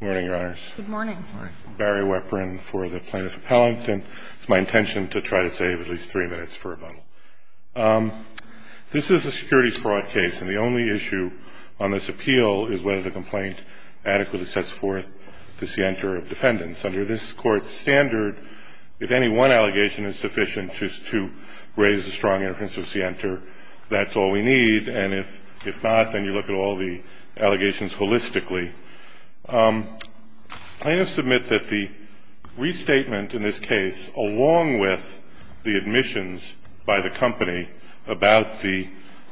Good morning, Your Honors. Good morning. I'm Barry Weprin for the plaintiff appellant, and it's my intention to try to save at least three minutes for rebuttal. This is a securities fraud case, and the only issue on this appeal is whether the complaint adequately sets forth the scienter of defendants. Under this Court's standard, if any one allegation is sufficient to raise a strong inference of scienter, that's all we need. And if not, then you look at all the allegations holistically. Plaintiffs submit that the restatement in this case, along with the admissions by the company about the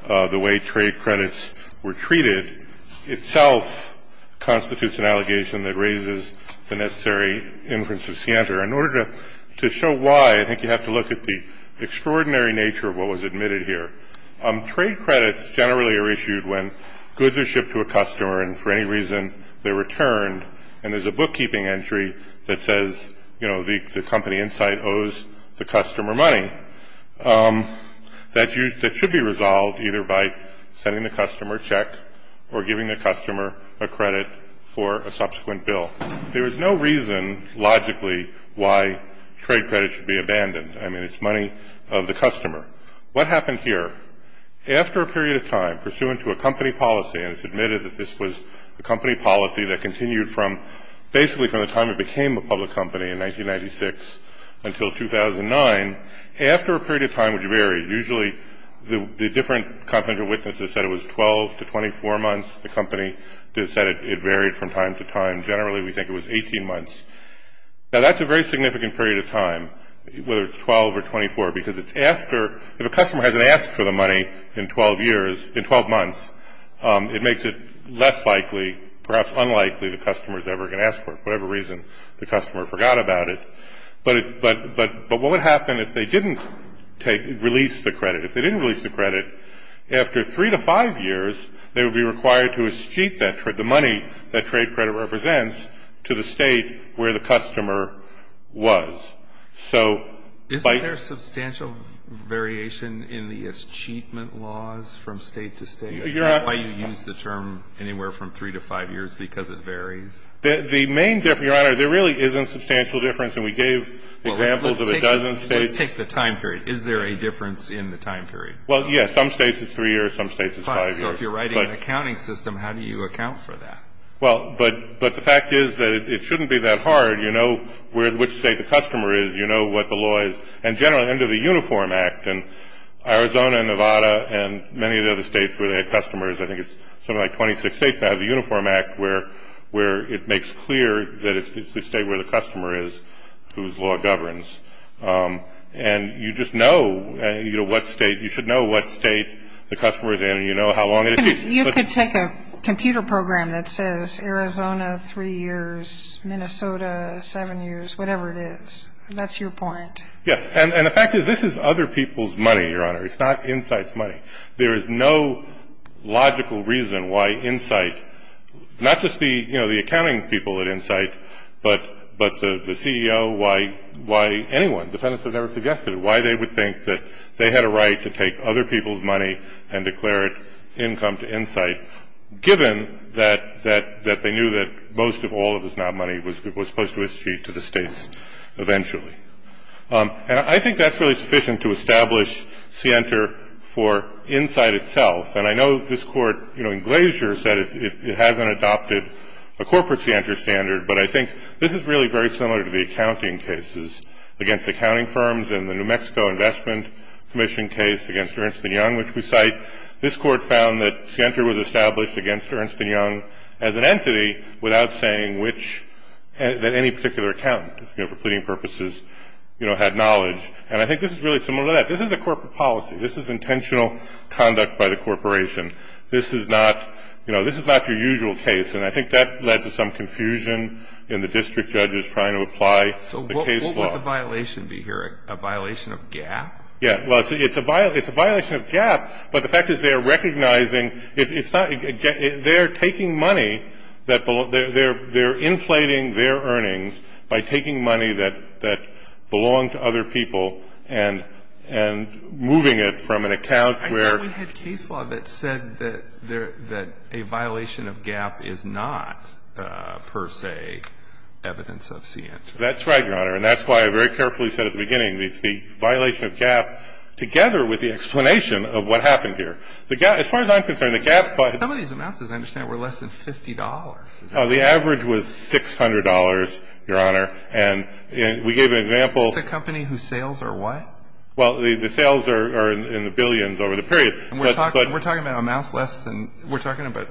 way trade credits were treated, itself constitutes an allegation that raises the necessary inference of scienter. In order to show why, I think you have to look at the extraordinary nature of what was admitted here. Trade credits generally are issued when goods are shipped to a customer, and for any reason they're returned, and there's a bookkeeping entry that says, you know, the company insight owes the customer money. That should be resolved either by sending the customer a check or giving the customer a credit for a subsequent bill. There is no reason logically why trade credits should be abandoned. I mean, it's money of the customer. What happened here? After a period of time, pursuant to a company policy, and it's admitted that this was a company policy that continued from basically from the time it became a public company in 1996 until 2009, after a period of time would vary. Usually the different confidential witnesses said it was 12 to 24 months. The company said it varied from time to time. Generally, we think it was 18 months. Now, that's a very significant period of time, whether it's 12 or 24, because it's after, if a customer hasn't asked for the money in 12 years, in 12 months, it makes it less likely, perhaps unlikely the customer is ever going to ask for it for whatever reason the customer forgot about it. But what would happen if they didn't release the credit? If they didn't release the credit, after three to five years, they would be required to escheat that credit, the money that trade credit represents, to the State where the customer was. So by the ---- Isn't there substantial variation in the escheatment laws from State to State? You're not ---- Is that why you use the term anywhere from three to five years, because it varies? The main difference, Your Honor, there really isn't substantial difference. And we gave examples of a dozen States. Well, let's take the time period. Is there a difference in the time period? Well, yes. Some States it's three years, some States it's five years. So if you're writing an accounting system, how do you account for that? Well, but the fact is that it shouldn't be that hard. You know which State the customer is. You know what the law is. And generally under the Uniform Act, and Arizona and Nevada and many of the other States where they have customers, I think it's something like 26 States now have the Uniform Act, where it makes clear that it's the State where the customer is whose law governs. And you just know what State you should know what State the customer is in and you know how long it is. You could take a computer program that says Arizona three years, Minnesota seven years, whatever it is. That's your point. Yes. And the fact is this is other people's money, Your Honor. It's not Insight's money. There is no logical reason why Insight, not just the accounting people at Insight, but the CEO, why anyone, defendants have never suggested it, why they would think that they had a right to take other people's money and declare it income to Insight, given that they knew that most of all of this now money was supposed to be issued to the States eventually. And I think that's really sufficient to establish SIENTA for Insight itself. And I know this Court, you know, in Glacier said it hasn't adopted a corporate SIENTA standard, but I think this is really very similar to the accounting cases against accounting firms and the New Mexico Investment Commission case against Ernst & Young, which we cite. This Court found that SIENTA was established against Ernst & Young as an entity without saying which that any particular accountant, you know, for pleading purposes, you know, had knowledge. And I think this is really similar to that. This is a corporate policy. This is intentional conduct by the corporation. This is not, you know, this is not your usual case. And I think that led to some confusion in the district judges trying to apply the case law. So what would the violation be here, a violation of GAAP? Yeah. Well, it's a violation of GAAP, but the fact is they're recognizing it's not they're taking money that they're inflating their earnings by taking money that belonged to other people and moving it from an account where I thought we had case law that said that a violation of GAAP is not per se evidence of SIENTA. That's right, Your Honor. And that's why I very carefully said at the beginning it's the violation of GAAP together with the explanation of what happened here. As far as I'm concerned, the GAAP fund Some of these amounts, as I understand it, were less than $50. The average was $600, Your Honor. And we gave an example The company whose sales are what? Well, the sales are in the billions over the period. And we're talking about amounts less than we're talking about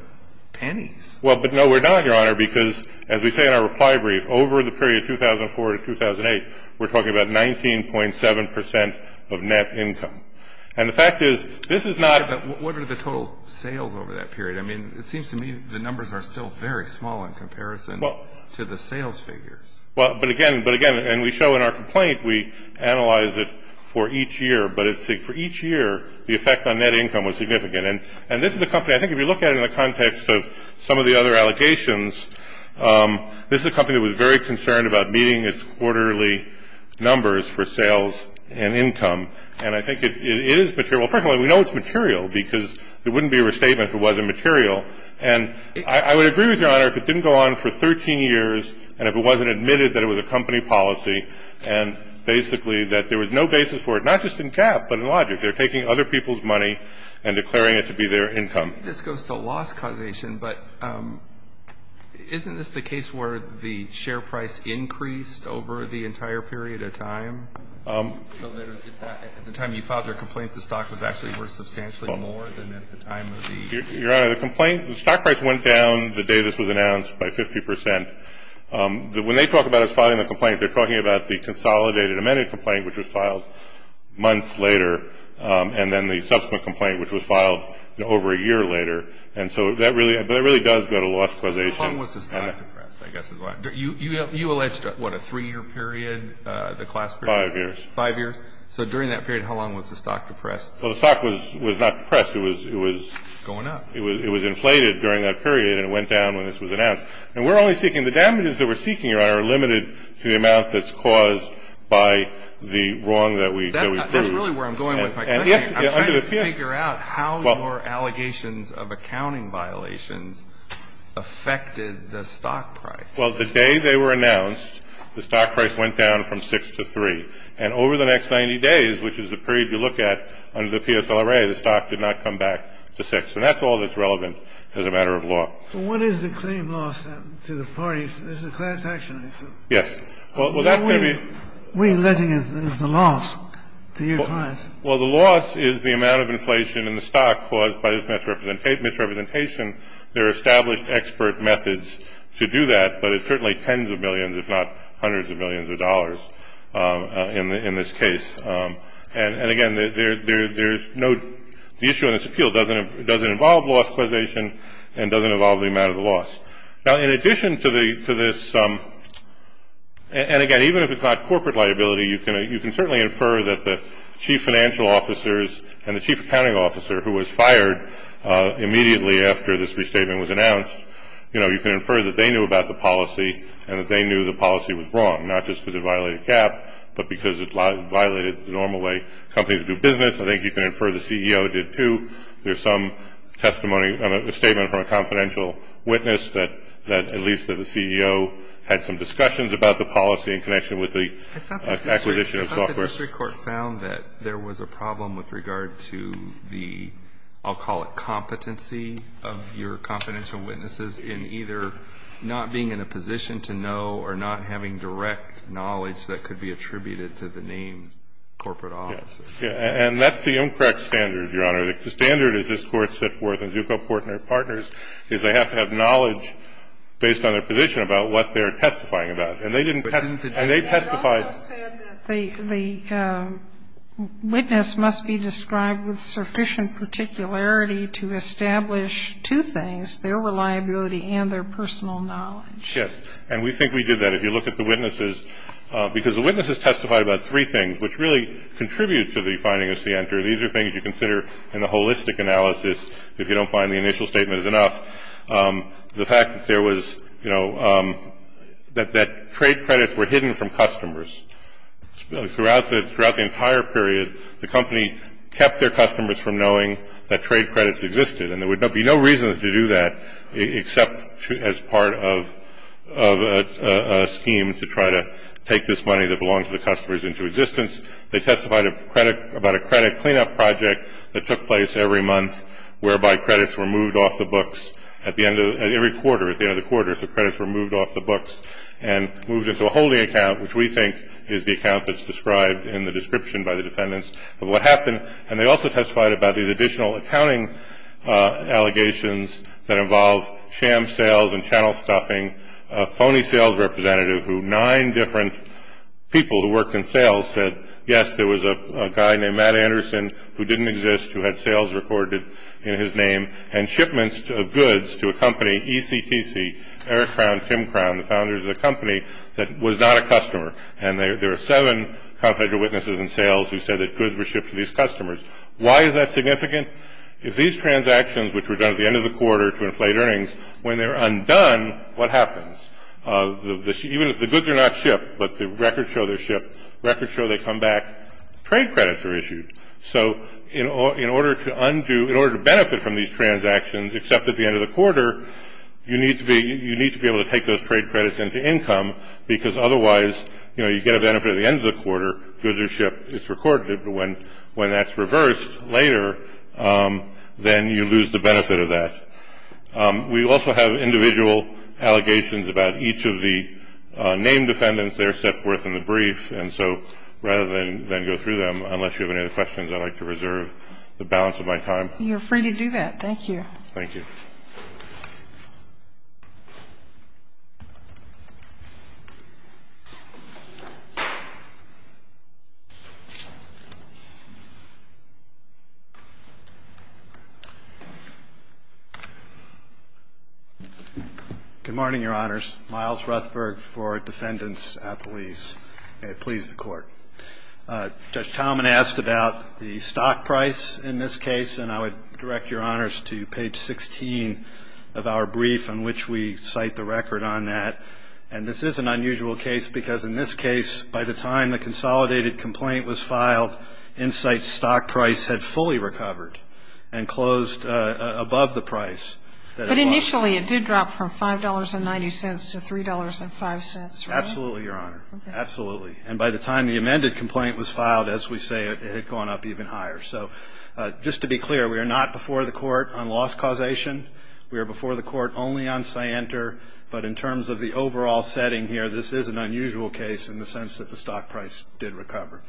pennies. Well, but no, we're not, Your Honor, because as we say in our reply brief, over the period 2004 to 2008, we're talking about 19.7 percent of net income. And the fact is this is not But what are the total sales over that period? I mean, it seems to me the numbers are still very small in comparison to the sales figures. Well, but again, but again, and we show in our complaint, we analyze it for each year. But for each year, the effect on net income was significant. And this is a company, I think if you look at it in the context of some of the other allegations, this is a company that was very concerned about meeting its quarterly numbers for sales and income. And I think it is material. First of all, we know it's material, because there wouldn't be a restatement if it wasn't material. And I would agree with Your Honor if it didn't go on for 13 years, and if it wasn't admitted that it was a company policy, and basically that there was no basis for it, not just in cap, but in logic. They're taking other people's money and declaring it to be their income. This goes to loss causation, but isn't this the case where the share price increased over the entire period of time? So that it's at the time you filed your complaint, the stock was actually worth substantially more than at the time of the Your Honor, the complaint, the stock price went down the day this was announced by 50 percent. When they talk about us filing the complaint, they're talking about the consolidated amended complaint, which was filed months later, and then the subsequent complaint, which was filed over a year later. And so that really does go to loss causation. How long was the stock depressed, I guess, as well? You alleged, what, a three-year period, the class period? Five years. Five years. So during that period, how long was the stock depressed? Well, the stock was not depressed. It was inflated during that period, and it went down when this was announced. And we're only seeking the damages that we're seeking, Your Honor, are limited to the amount that's caused by the wrong that we proved. That's really where I'm going with my question. I'm trying to figure out how your allegations of accounting violations affected the stock price. Well, the day they were announced, the stock price went down from 6 to 3. And over the next 90 days, which is the period you look at under the PSLRA, the stock did not come back to 6. And that's all that's relevant as a matter of law. Well, what is the claim loss to the parties? This is a class action, I assume. Yes. Well, that's going to be — What are we alleging is the loss to your clients? Well, the loss is the amount of inflation in the stock caused by this misrepresentation. There are established expert methods to do that, but it's certainly tens of millions if not hundreds of millions of dollars in this case. And, again, there's no — the issue in this appeal doesn't involve loss causation and doesn't involve the amount of the loss. Now, in addition to this — and, again, even if it's not corporate liability, you can certainly infer that the chief financial officers and the chief accounting officer who was fired immediately after this restatement was announced, you know, you can infer that they knew about the policy and that they knew the policy was wrong, not just because it violated CAP, but because it violated the normal way companies do business. I think you can infer the CEO did, too. There's some testimony — a statement from a confidential witness that at least the CEO had some discussions about the policy in connection with the acquisition of software. I thought the district court found that there was a problem with regard to the — I'll call it competency of your confidential witnesses in either not being in a position to know or not having direct knowledge that could be attributed to the named corporate officers. Yeah. And that's the incorrect standard, Your Honor. The standard that this Court set forth in Zucco, Portner, and Partners is they have to have knowledge based on their position about what they're testifying about. And they didn't testify. And they testified — They also said that the witness must be described with sufficient particularity to establish two things, their reliability and their personal knowledge. Yes. And we think we did that. If you look at the witnesses — because the witnesses testified about three things, which really contribute to the finding of Center. These are things you consider in the holistic analysis if you don't find the initial statement is enough. The fact that there was — you know, that trade credits were hidden from customers. Throughout the entire period, the company kept their customers from knowing that trade credits existed. And there would be no reason to do that except as part of a scheme to try to take this money that belonged to the customers into existence. They testified about a credit cleanup project that took place every month whereby credits were moved off the books at the end of — at every quarter. At the end of the quarter, the credits were moved off the books and moved into a holding account, which we think is the account that's described in the description by the defendants of what happened. And they also testified about these additional accounting allegations that involve sham sales and channel stuffing, a phony sales representative who nine different people who worked in sales said, yes, there was a guy named Matt Anderson who didn't exist, who had sales recorded in his name, and shipments of goods to a company, ECTC, Eric Crown, Tim Crown, the founders of the company, that was not a customer. And there are seven confederate witnesses in sales who said that goods were shipped to these customers. Why is that significant? If these transactions, which were done at the end of the quarter to inflate earnings, when they're undone, what happens? Even if the goods are not shipped, but the records show they're shipped, records show they come back, trade credits are issued. So in order to undo — in order to benefit from these transactions, except at the end of the quarter, you need to be able to take those trade credits into income because otherwise, you know, you get a benefit at the end of the quarter. Goods are shipped. It's recorded. But when that's reversed later, then you lose the benefit of that. We also have individual allegations about each of the named defendants there set forth in the brief. And so rather than go through them, unless you have any other questions, I'd like to reserve the balance of my time. You're free to do that. Thank you. Thank you. Good morning, Your Honors. Miles Ruthberg for Defendants at the Lease. May it please the Court. Judge Talman asked about the stock price in this case, and I would direct Your Honors to page 16 of our brief in which we cite the record on that. And this is an unusual case because in this case, by the time the consolidated complaint was filed, Insight's stock price had fully recovered and closed above the price that it was. But initially, it did drop from $5.90 to $3.05, right? Absolutely, Your Honor. Okay. Absolutely. And by the time the amended complaint was filed, as we say, it had gone up even higher. So just to be clear, we are not before the Court on loss causation. We are before the Court only on Scienter. But in terms of the overall setting here, this is an unusual case in the sense that the stock price did recover.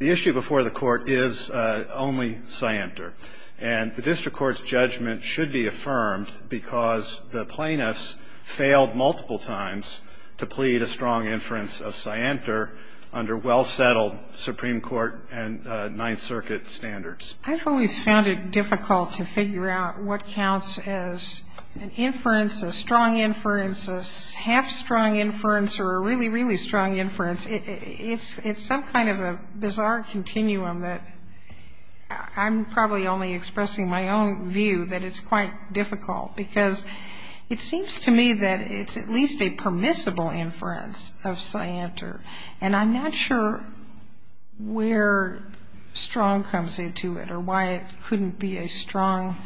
The issue before the Court is only Scienter. And the district court's judgment should be affirmed because the plaintiffs failed multiple times to plead a strong inference of Scienter under well-settled Supreme Court and Ninth Circuit standards. I've always found it difficult to figure out what counts as an inference, a strong inference, a half-strong inference, or a really, really strong inference. It's some kind of a bizarre continuum that I'm probably only expressing my own view that it's quite difficult because it seems to me that it's at least a permissible inference of Scienter. And I'm not sure where strong comes into it or why it couldn't be a strong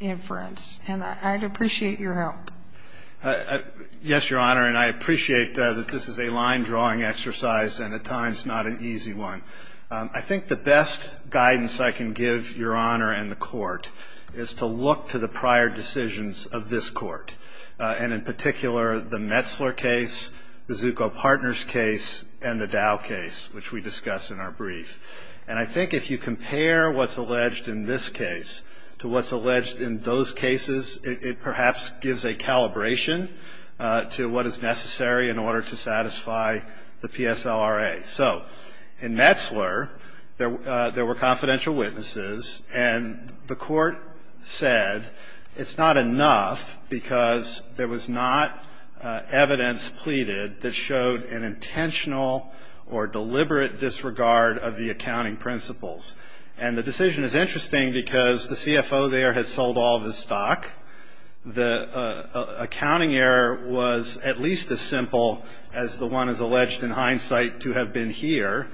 inference. And I'd appreciate your help. Yes, Your Honor, and I appreciate that this is a line-drawing exercise and at times not an easy one. I think the best guidance I can give Your Honor and the Court is to look to the prior decisions of this Court, and in particular the Metzler case, the Zucco Partners case, and the Dow case, which we discuss in our brief. And I think if you compare what's alleged in this case to what's alleged in those cases, it perhaps gives a calibration to what is necessary in order to satisfy the PSLRA. Okay, so in Metzler, there were confidential witnesses, and the Court said it's not enough because there was not evidence pleaded that showed an intentional or deliberate disregard of the accounting principles. And the decision is interesting because the CFO there has sold all of his stock. The accounting error was at least as simple as the one is alleged in hindsight to have been here.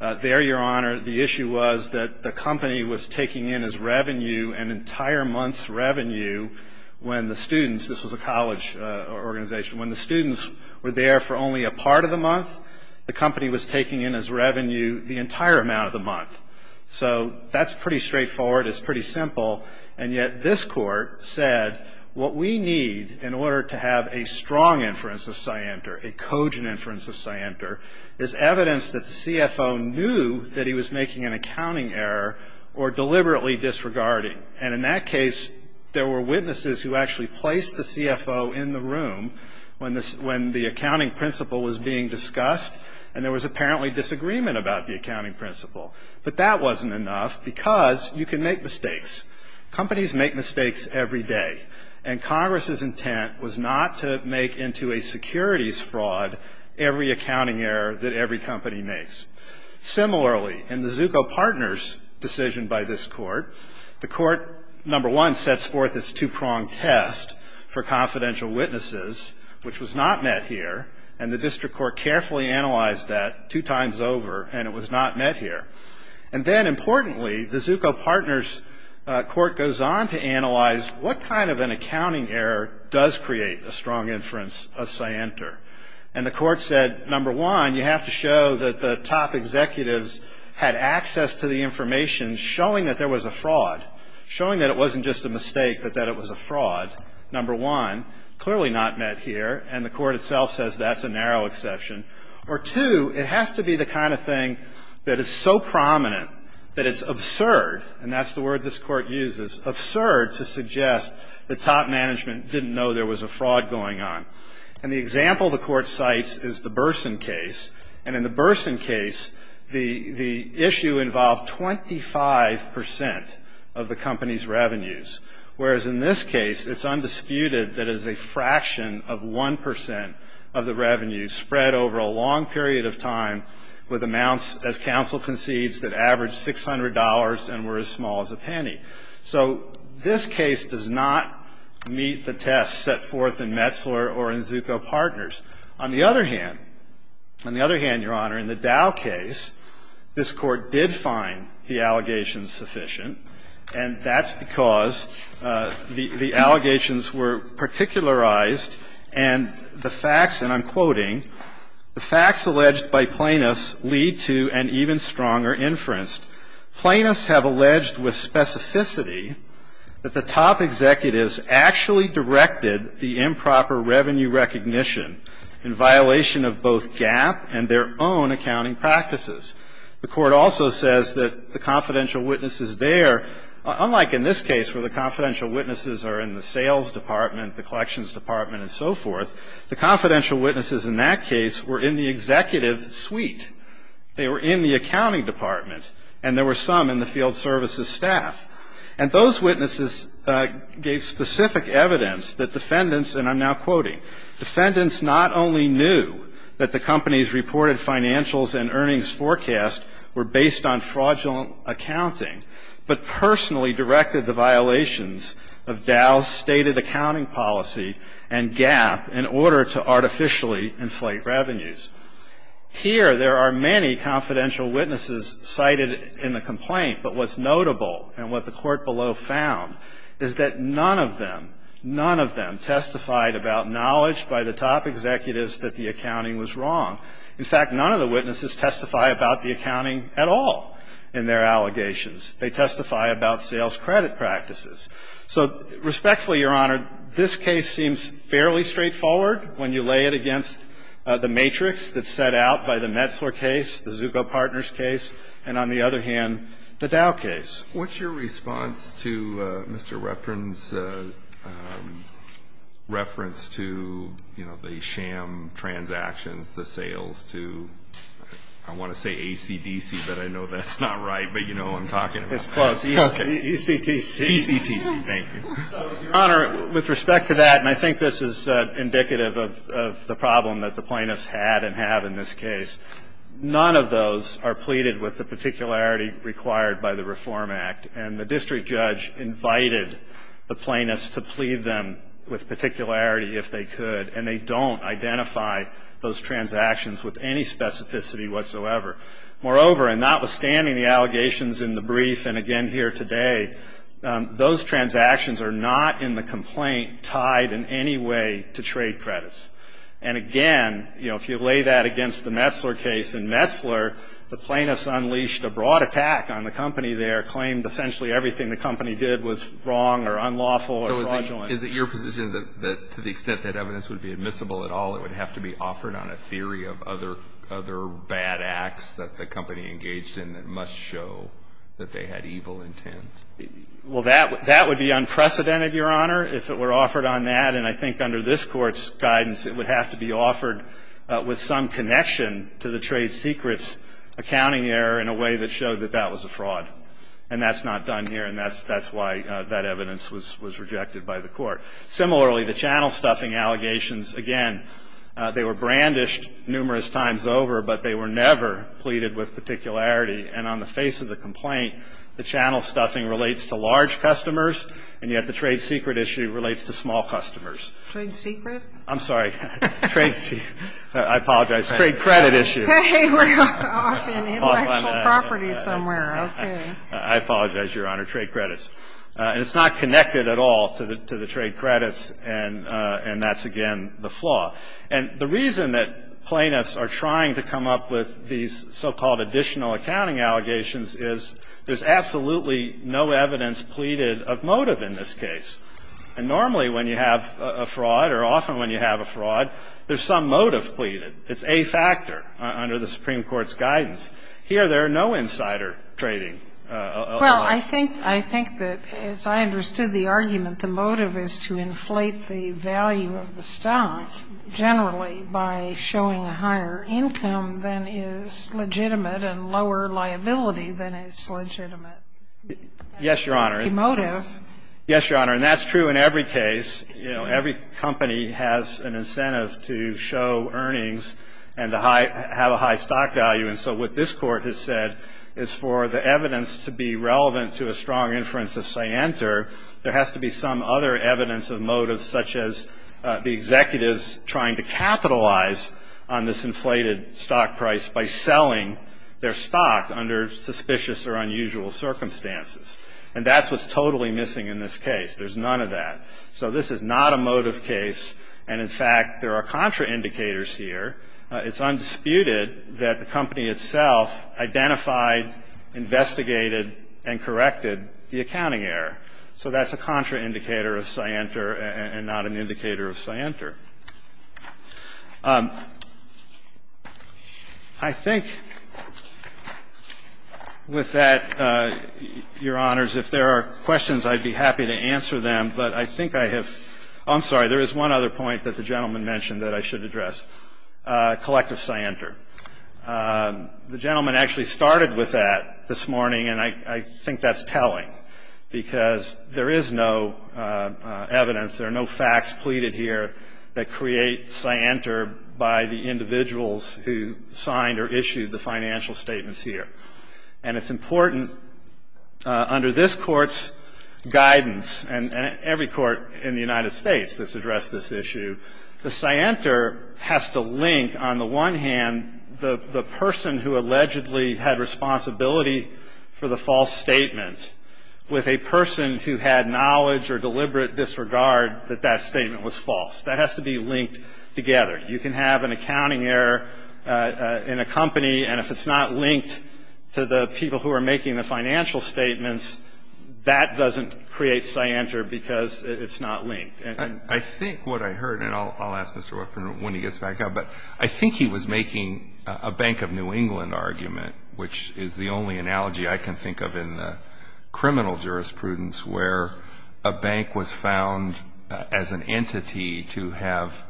There, Your Honor, the issue was that the company was taking in as revenue an entire month's revenue when the students, this was a college organization, when the students were there for only a part of the month, the company was taking in as revenue the entire amount of the month. So that's pretty straightforward. It's pretty simple. And yet this Court said what we need in order to have a strong inference of Scienter, a cogent inference of Scienter, is evidence that the CFO knew that he was making an accounting error or deliberately disregarding. And in that case, there were witnesses who actually placed the CFO in the room when the accounting principle was being discussed, and there was apparently disagreement about the accounting principle. But that wasn't enough because you can make mistakes. Companies make mistakes every day, and Congress's intent was not to make into a securities fraud every accounting error that every company makes. Similarly, in the Zucco Partners decision by this Court, the Court, number one, sets forth its two-pronged test for confidential witnesses, which was not met here, and the district court carefully analyzed that two times over, and it was not met here. And then, importantly, the Zucco Partners Court goes on to analyze what kind of an accounting error does create a strong inference of Scienter. And the Court said, number one, you have to show that the top executives had access to the information, showing that there was a fraud, showing that it wasn't just a mistake but that it was a fraud, number one, clearly not met here, and the Court itself says that's a narrow exception. Or, two, it has to be the kind of thing that is so prominent that it's absurd, and that's the word this Court uses, absurd to suggest that top management didn't know there was a fraud going on. And the example the Court cites is the Burson case. And in the Burson case, the issue involved 25 percent of the company's revenues, whereas in this case, it's undisputed that it is a fraction of 1 percent of the revenue spread over a long period of time with amounts, as counsel concedes, that averaged $600 and were as small as a penny. So this case does not meet the test set forth in Metzler or in Zucco Partners. On the other hand, on the other hand, Your Honor, in the Dow case, this Court did find the allegations sufficient, and that's because the allegations were particularized and the facts, and I'm quoting, "'The facts alleged by plaintiffs lead to an even stronger inference. Plaintiffs have alleged with specificity that the top executives actually directed the improper revenue recognition in violation of both GAAP and their own accounting practices.' The Court also says that the confidential witnesses there, unlike in this case where the confidential witnesses are in the sales department, the collections department, and so forth, the confidential witnesses in that case were in the executive suite. They were in the accounting department, and there were some in the field services staff. And those witnesses gave specific evidence that defendants, and I'm now quoting, "'Defendants not only knew that the company's reported financials and earnings forecast were based on fraudulent accounting, but personally directed the violations of Dow's stated accounting policy and GAAP in order to artificially inflate revenues.'" Here, there are many confidential witnesses cited in the complaint, but what's notable and what the Court below found is that none of them, none of them testified about knowledge by the top executives that the accounting was wrong. In fact, none of the witnesses testify about the accounting at all in their allegations. They testify about sales credit practices. So respectfully, Your Honor, this case seems fairly straightforward when you lay it against the matrix that's set out by the Metzler case, the Zucco Partners case, and on the other hand, the Dow case. What's your response to Mr. Reprin's reference to, you know, the sham transactions, the sales to, I want to say ACDC, but I know that's not right. But you know who I'm talking about. It's close. ECTC. ECTC. Thank you. So, Your Honor, with respect to that, and I think this is indicative of the problem that the plaintiffs had and have in this case, none of those are pleaded with the particularity required by the Reform Act. And the district judge invited the plaintiffs to plead them with particularity if they could, and they don't identify those transactions with any specificity whatsoever. Moreover, and notwithstanding the allegations in the brief and again here today, those transactions are not in the complaint tied in any way to trade credits. And again, you know, if you lay that against the Metzler case, in Metzler, the plaintiffs unleashed a broad attack on the company there, claimed essentially everything the company did was wrong or unlawful or fraudulent. So is it your position that to the extent that evidence would be admissible at all, it would have to be offered on a theory of other bad acts that the company engaged in that must show that they had evil intent? Well, that would be unprecedented, Your Honor, if it were offered on that. And I think under this Court's guidance, it would have to be offered with some connection to the trade secrets accounting error in a way that showed that that was a fraud. And that's not done here, and that's why that evidence was rejected by the Court. Similarly, the channel stuffing allegations, again, they were brandished numerous times over, but they were never pleaded with particularity. And on the face of the complaint, the channel stuffing relates to large customers, and yet the trade secret issue relates to small customers. Trade secret? I'm sorry. Trade secret. I apologize. Trade credit issue. Hey, we're off in intellectual property somewhere. Okay. I apologize, Your Honor. Trade credits. And it's not connected at all to the trade credits, and that's again the flaw. And the reason that plaintiffs are trying to come up with these so-called additional accounting allegations is there's absolutely no evidence pleaded of motive in this case. And normally when you have a fraud or often when you have a fraud, there's some motive pleaded. It's a factor under the Supreme Court's guidance. Here there are no insider trading allegations. Well, I think that, as I understood the argument, the motive is to inflate the value of the stock generally by showing a higher income than is legitimate and lower liability than is legitimate. Yes, Your Honor. The motive. Yes, Your Honor. And that's true in every case. You know, every company has an incentive to show earnings and to have a high stock value. And so what this Court has said is for the evidence to be relevant to a strong inference of scienter, there has to be some other evidence of motive such as the executives trying to capitalize on this inflated stock price by selling their stock under suspicious or unusual circumstances. And that's what's totally missing in this case. There's none of that. So this is not a motive case. And, in fact, there are contraindicators here. It's undisputed that the company itself identified, investigated, and corrected the accounting error. So that's a contraindicator of scienter and not an indicator of scienter. I think with that, Your Honors, if there are questions, I'd be happy to answer them. But I think I have ‑‑ I'm sorry, there is one other point that the gentleman mentioned that I should address, collective scienter. The gentleman actually started with that this morning, and I think that's telling because there is no evidence, there are no facts pleaded here that create scienter by the individuals who signed or issued the financial statements here. And it's important, under this Court's guidance, and every court in the United States that's addressed this issue, the scienter has to link, on the one hand, the person who allegedly had responsibility for the false statement with a person who had knowledge or deliberate disregard that that statement was false. That has to be linked together. You can have an accounting error in a company, and if it's not linked to the people who are making the financial statements, that doesn't create scienter because it's not linked. I think what I heard, and I'll ask Mr. Whitman when he gets back up, but I think he was making a Bank of New England argument, which is the only analogy I can think of in the criminal jurisprudence where a bank was found as an entity to have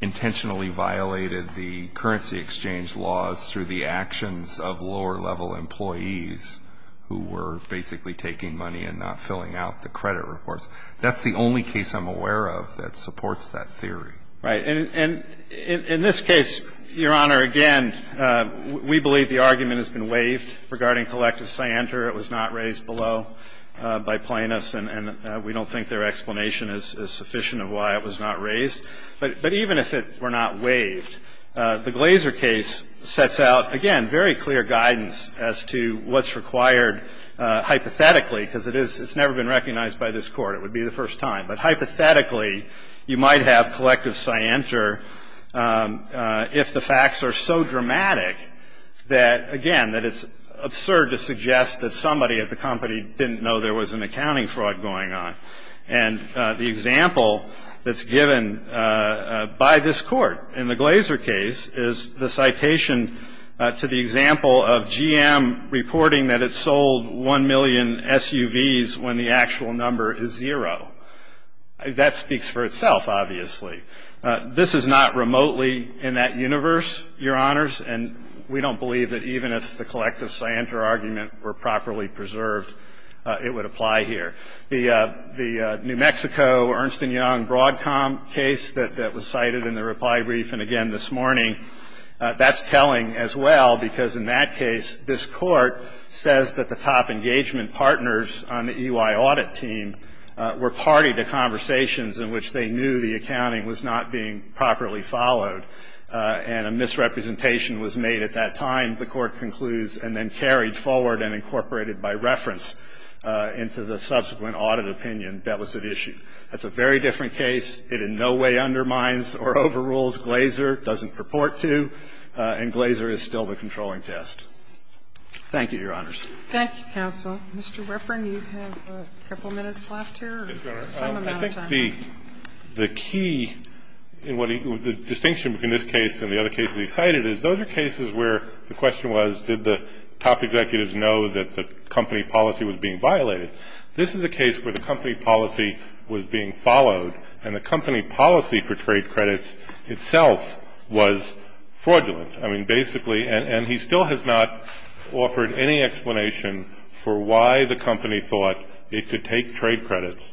intentionally violated the currency exchange laws through the actions of lower level employees who were basically taking money and not filling out the credit reports. That's the only case I'm aware of that supports that theory. Right. And in this case, Your Honor, again, we believe the argument has been waived regarding collective scienter. It was not raised below by plaintiffs, and we don't think their explanation is sufficient of why it was not raised. But even if it were not waived, the Glazer case sets out, again, very clear guidance as to what's required hypothetically, because it's never been recognized by this Court. It would be the first time. But hypothetically, you might have collective scienter if the facts are so dramatic that, again, that it's absurd to suggest that somebody at the company didn't know there was an accounting fraud going on. And the example that's given by this Court in the Glazer case is the citation to the example of GM reporting that it sold 1 million SUVs when the actual number is zero. That speaks for itself, obviously. This is not remotely in that universe, Your Honors, and we don't believe that even if the collective scienter argument were properly preserved, it would apply here. The New Mexico, Ernst and Young Broadcom case that was cited in the reply brief and again this morning, that's telling as well, because in that case, this Court says that the top engagement partners on the EY audit team were party to conversations in which they knew the accounting was not being properly followed and a misrepresentation was made at that time, the Court concludes, and then carried forward and incorporated by reference into the subsequent audit opinion that was at issue. That's a very different case. It in no way undermines or overrules Glazer, doesn't purport to, and Glazer is still the controlling test. Thank you, Your Honors. Thank you, counsel. Mr. Weprin, you have a couple minutes left here or some amount of time. I think the key in what the distinction between this case and the other cases he cited is those are cases where the question was, did the top executives know that the company policy was being violated? This is a case where the company policy was being followed and the company policy for trade credits itself was fraudulent. I mean, basically, and he still has not offered any explanation for why the company thought it could take trade credits,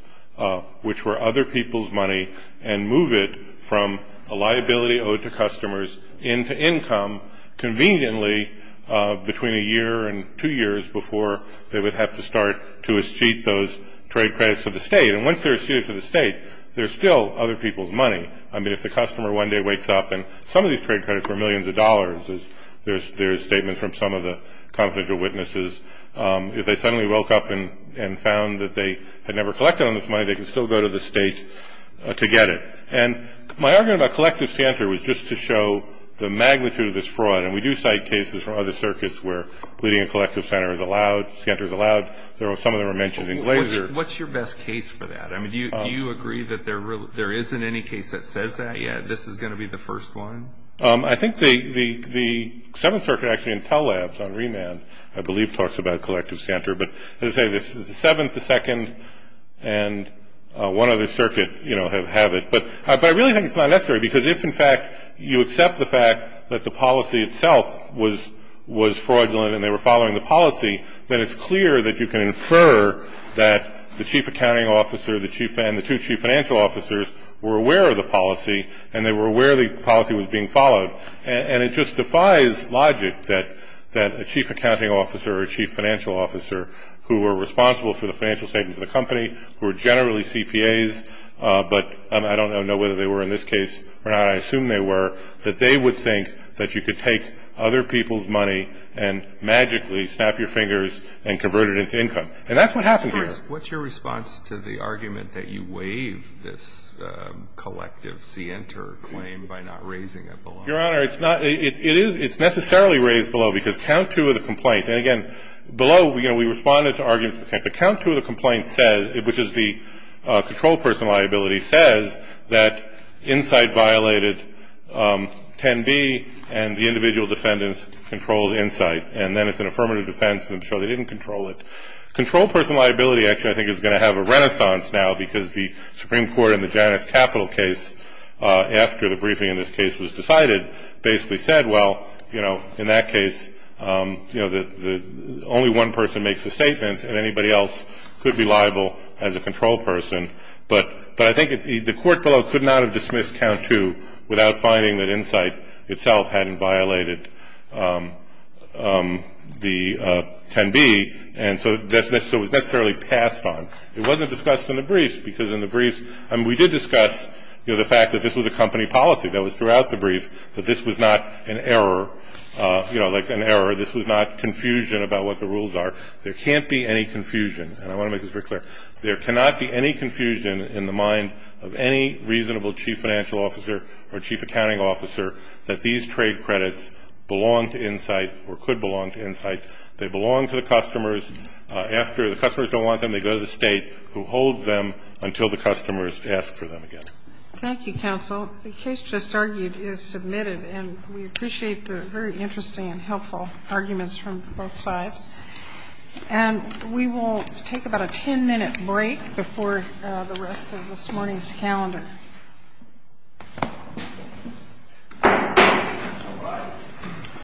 which were other people's money, and move it from a liability owed to customers into income conveniently between a year and two years before they would have to start to accede those trade credits to the state. And once they're acceded to the state, they're still other people's money. I mean, if the customer one day wakes up and some of these trade credits were millions of dollars, as there's statements from some of the confidential witnesses, if they suddenly woke up and found that they had never collected all this money, they could still go to the state to get it. And my argument about collective scanter was just to show the magnitude of this fraud. And we do cite cases from other circuits where leading a collective center is allowed, scanter is allowed. Some of them are mentioned in Glaser. What's your best case for that? I mean, do you agree that there isn't any case that says that yet? This is going to be the first one? I think the Seventh Circuit actually in Tell Labs on remand, I believe, talks about collective scanter. But as I say, the Seventh, the Second, and one other circuit have it. But I really think it's not necessary, because if, in fact, you accept the fact that the policy itself was fraudulent and they were following the policy, then it's clear that you can infer that the chief accounting officer and the two chief financial officers were aware of the policy, and they were aware the policy was being followed. And it just defies logic that a chief accounting officer or a chief financial officer who were responsible for the financial statements of the company, who are generally CPAs, but I don't know whether they were in this case or not. I assume they were, that they would think that you could take other people's money and magically snap your fingers and convert it into income. And that's what happened here. What's your response to the argument that you waive this collective scanter claim by not raising it below? Your Honor, it's not, it is, it's necessarily raised below, because count two of the complaint. And again, below, you know, we responded to arguments, but count two of the complaint says, which is the control person liability, says that Insight violated 10B, and the individual defendants controlled Insight. And then it's an affirmative defense, and so they didn't control it. Control person liability, actually, I think is going to have a renaissance now, because the Supreme Court in the Janus Capital case, after the briefing in this case was decided, basically said, well, you know, in that case, you know, only one person makes a statement, and anybody else could be liable as a control person. But I think the court below could not have dismissed count two without finding that Insight itself hadn't violated the 10B. And so that was necessarily passed on. It wasn't discussed in the briefs, because in the briefs, and we did discuss, you know, the fact that this was a company policy that was throughout the brief, that this was not an error, you know, like an error. This was not confusion about what the rules are. There can't be any confusion, and I want to make this very clear. There cannot be any confusion in the mind of any reasonable chief financial officer or chief accounting officer that these trade credits belong to Insight or could belong to Insight. They belong to the customers. After the customers don't want them, they go to the state who holds them until the customers ask for them again. Thank you, counsel. The case just argued is submitted, and we appreciate the very interesting and helpful arguments from both sides. And we will take about a 10-minute break before the rest of this morning's calendar.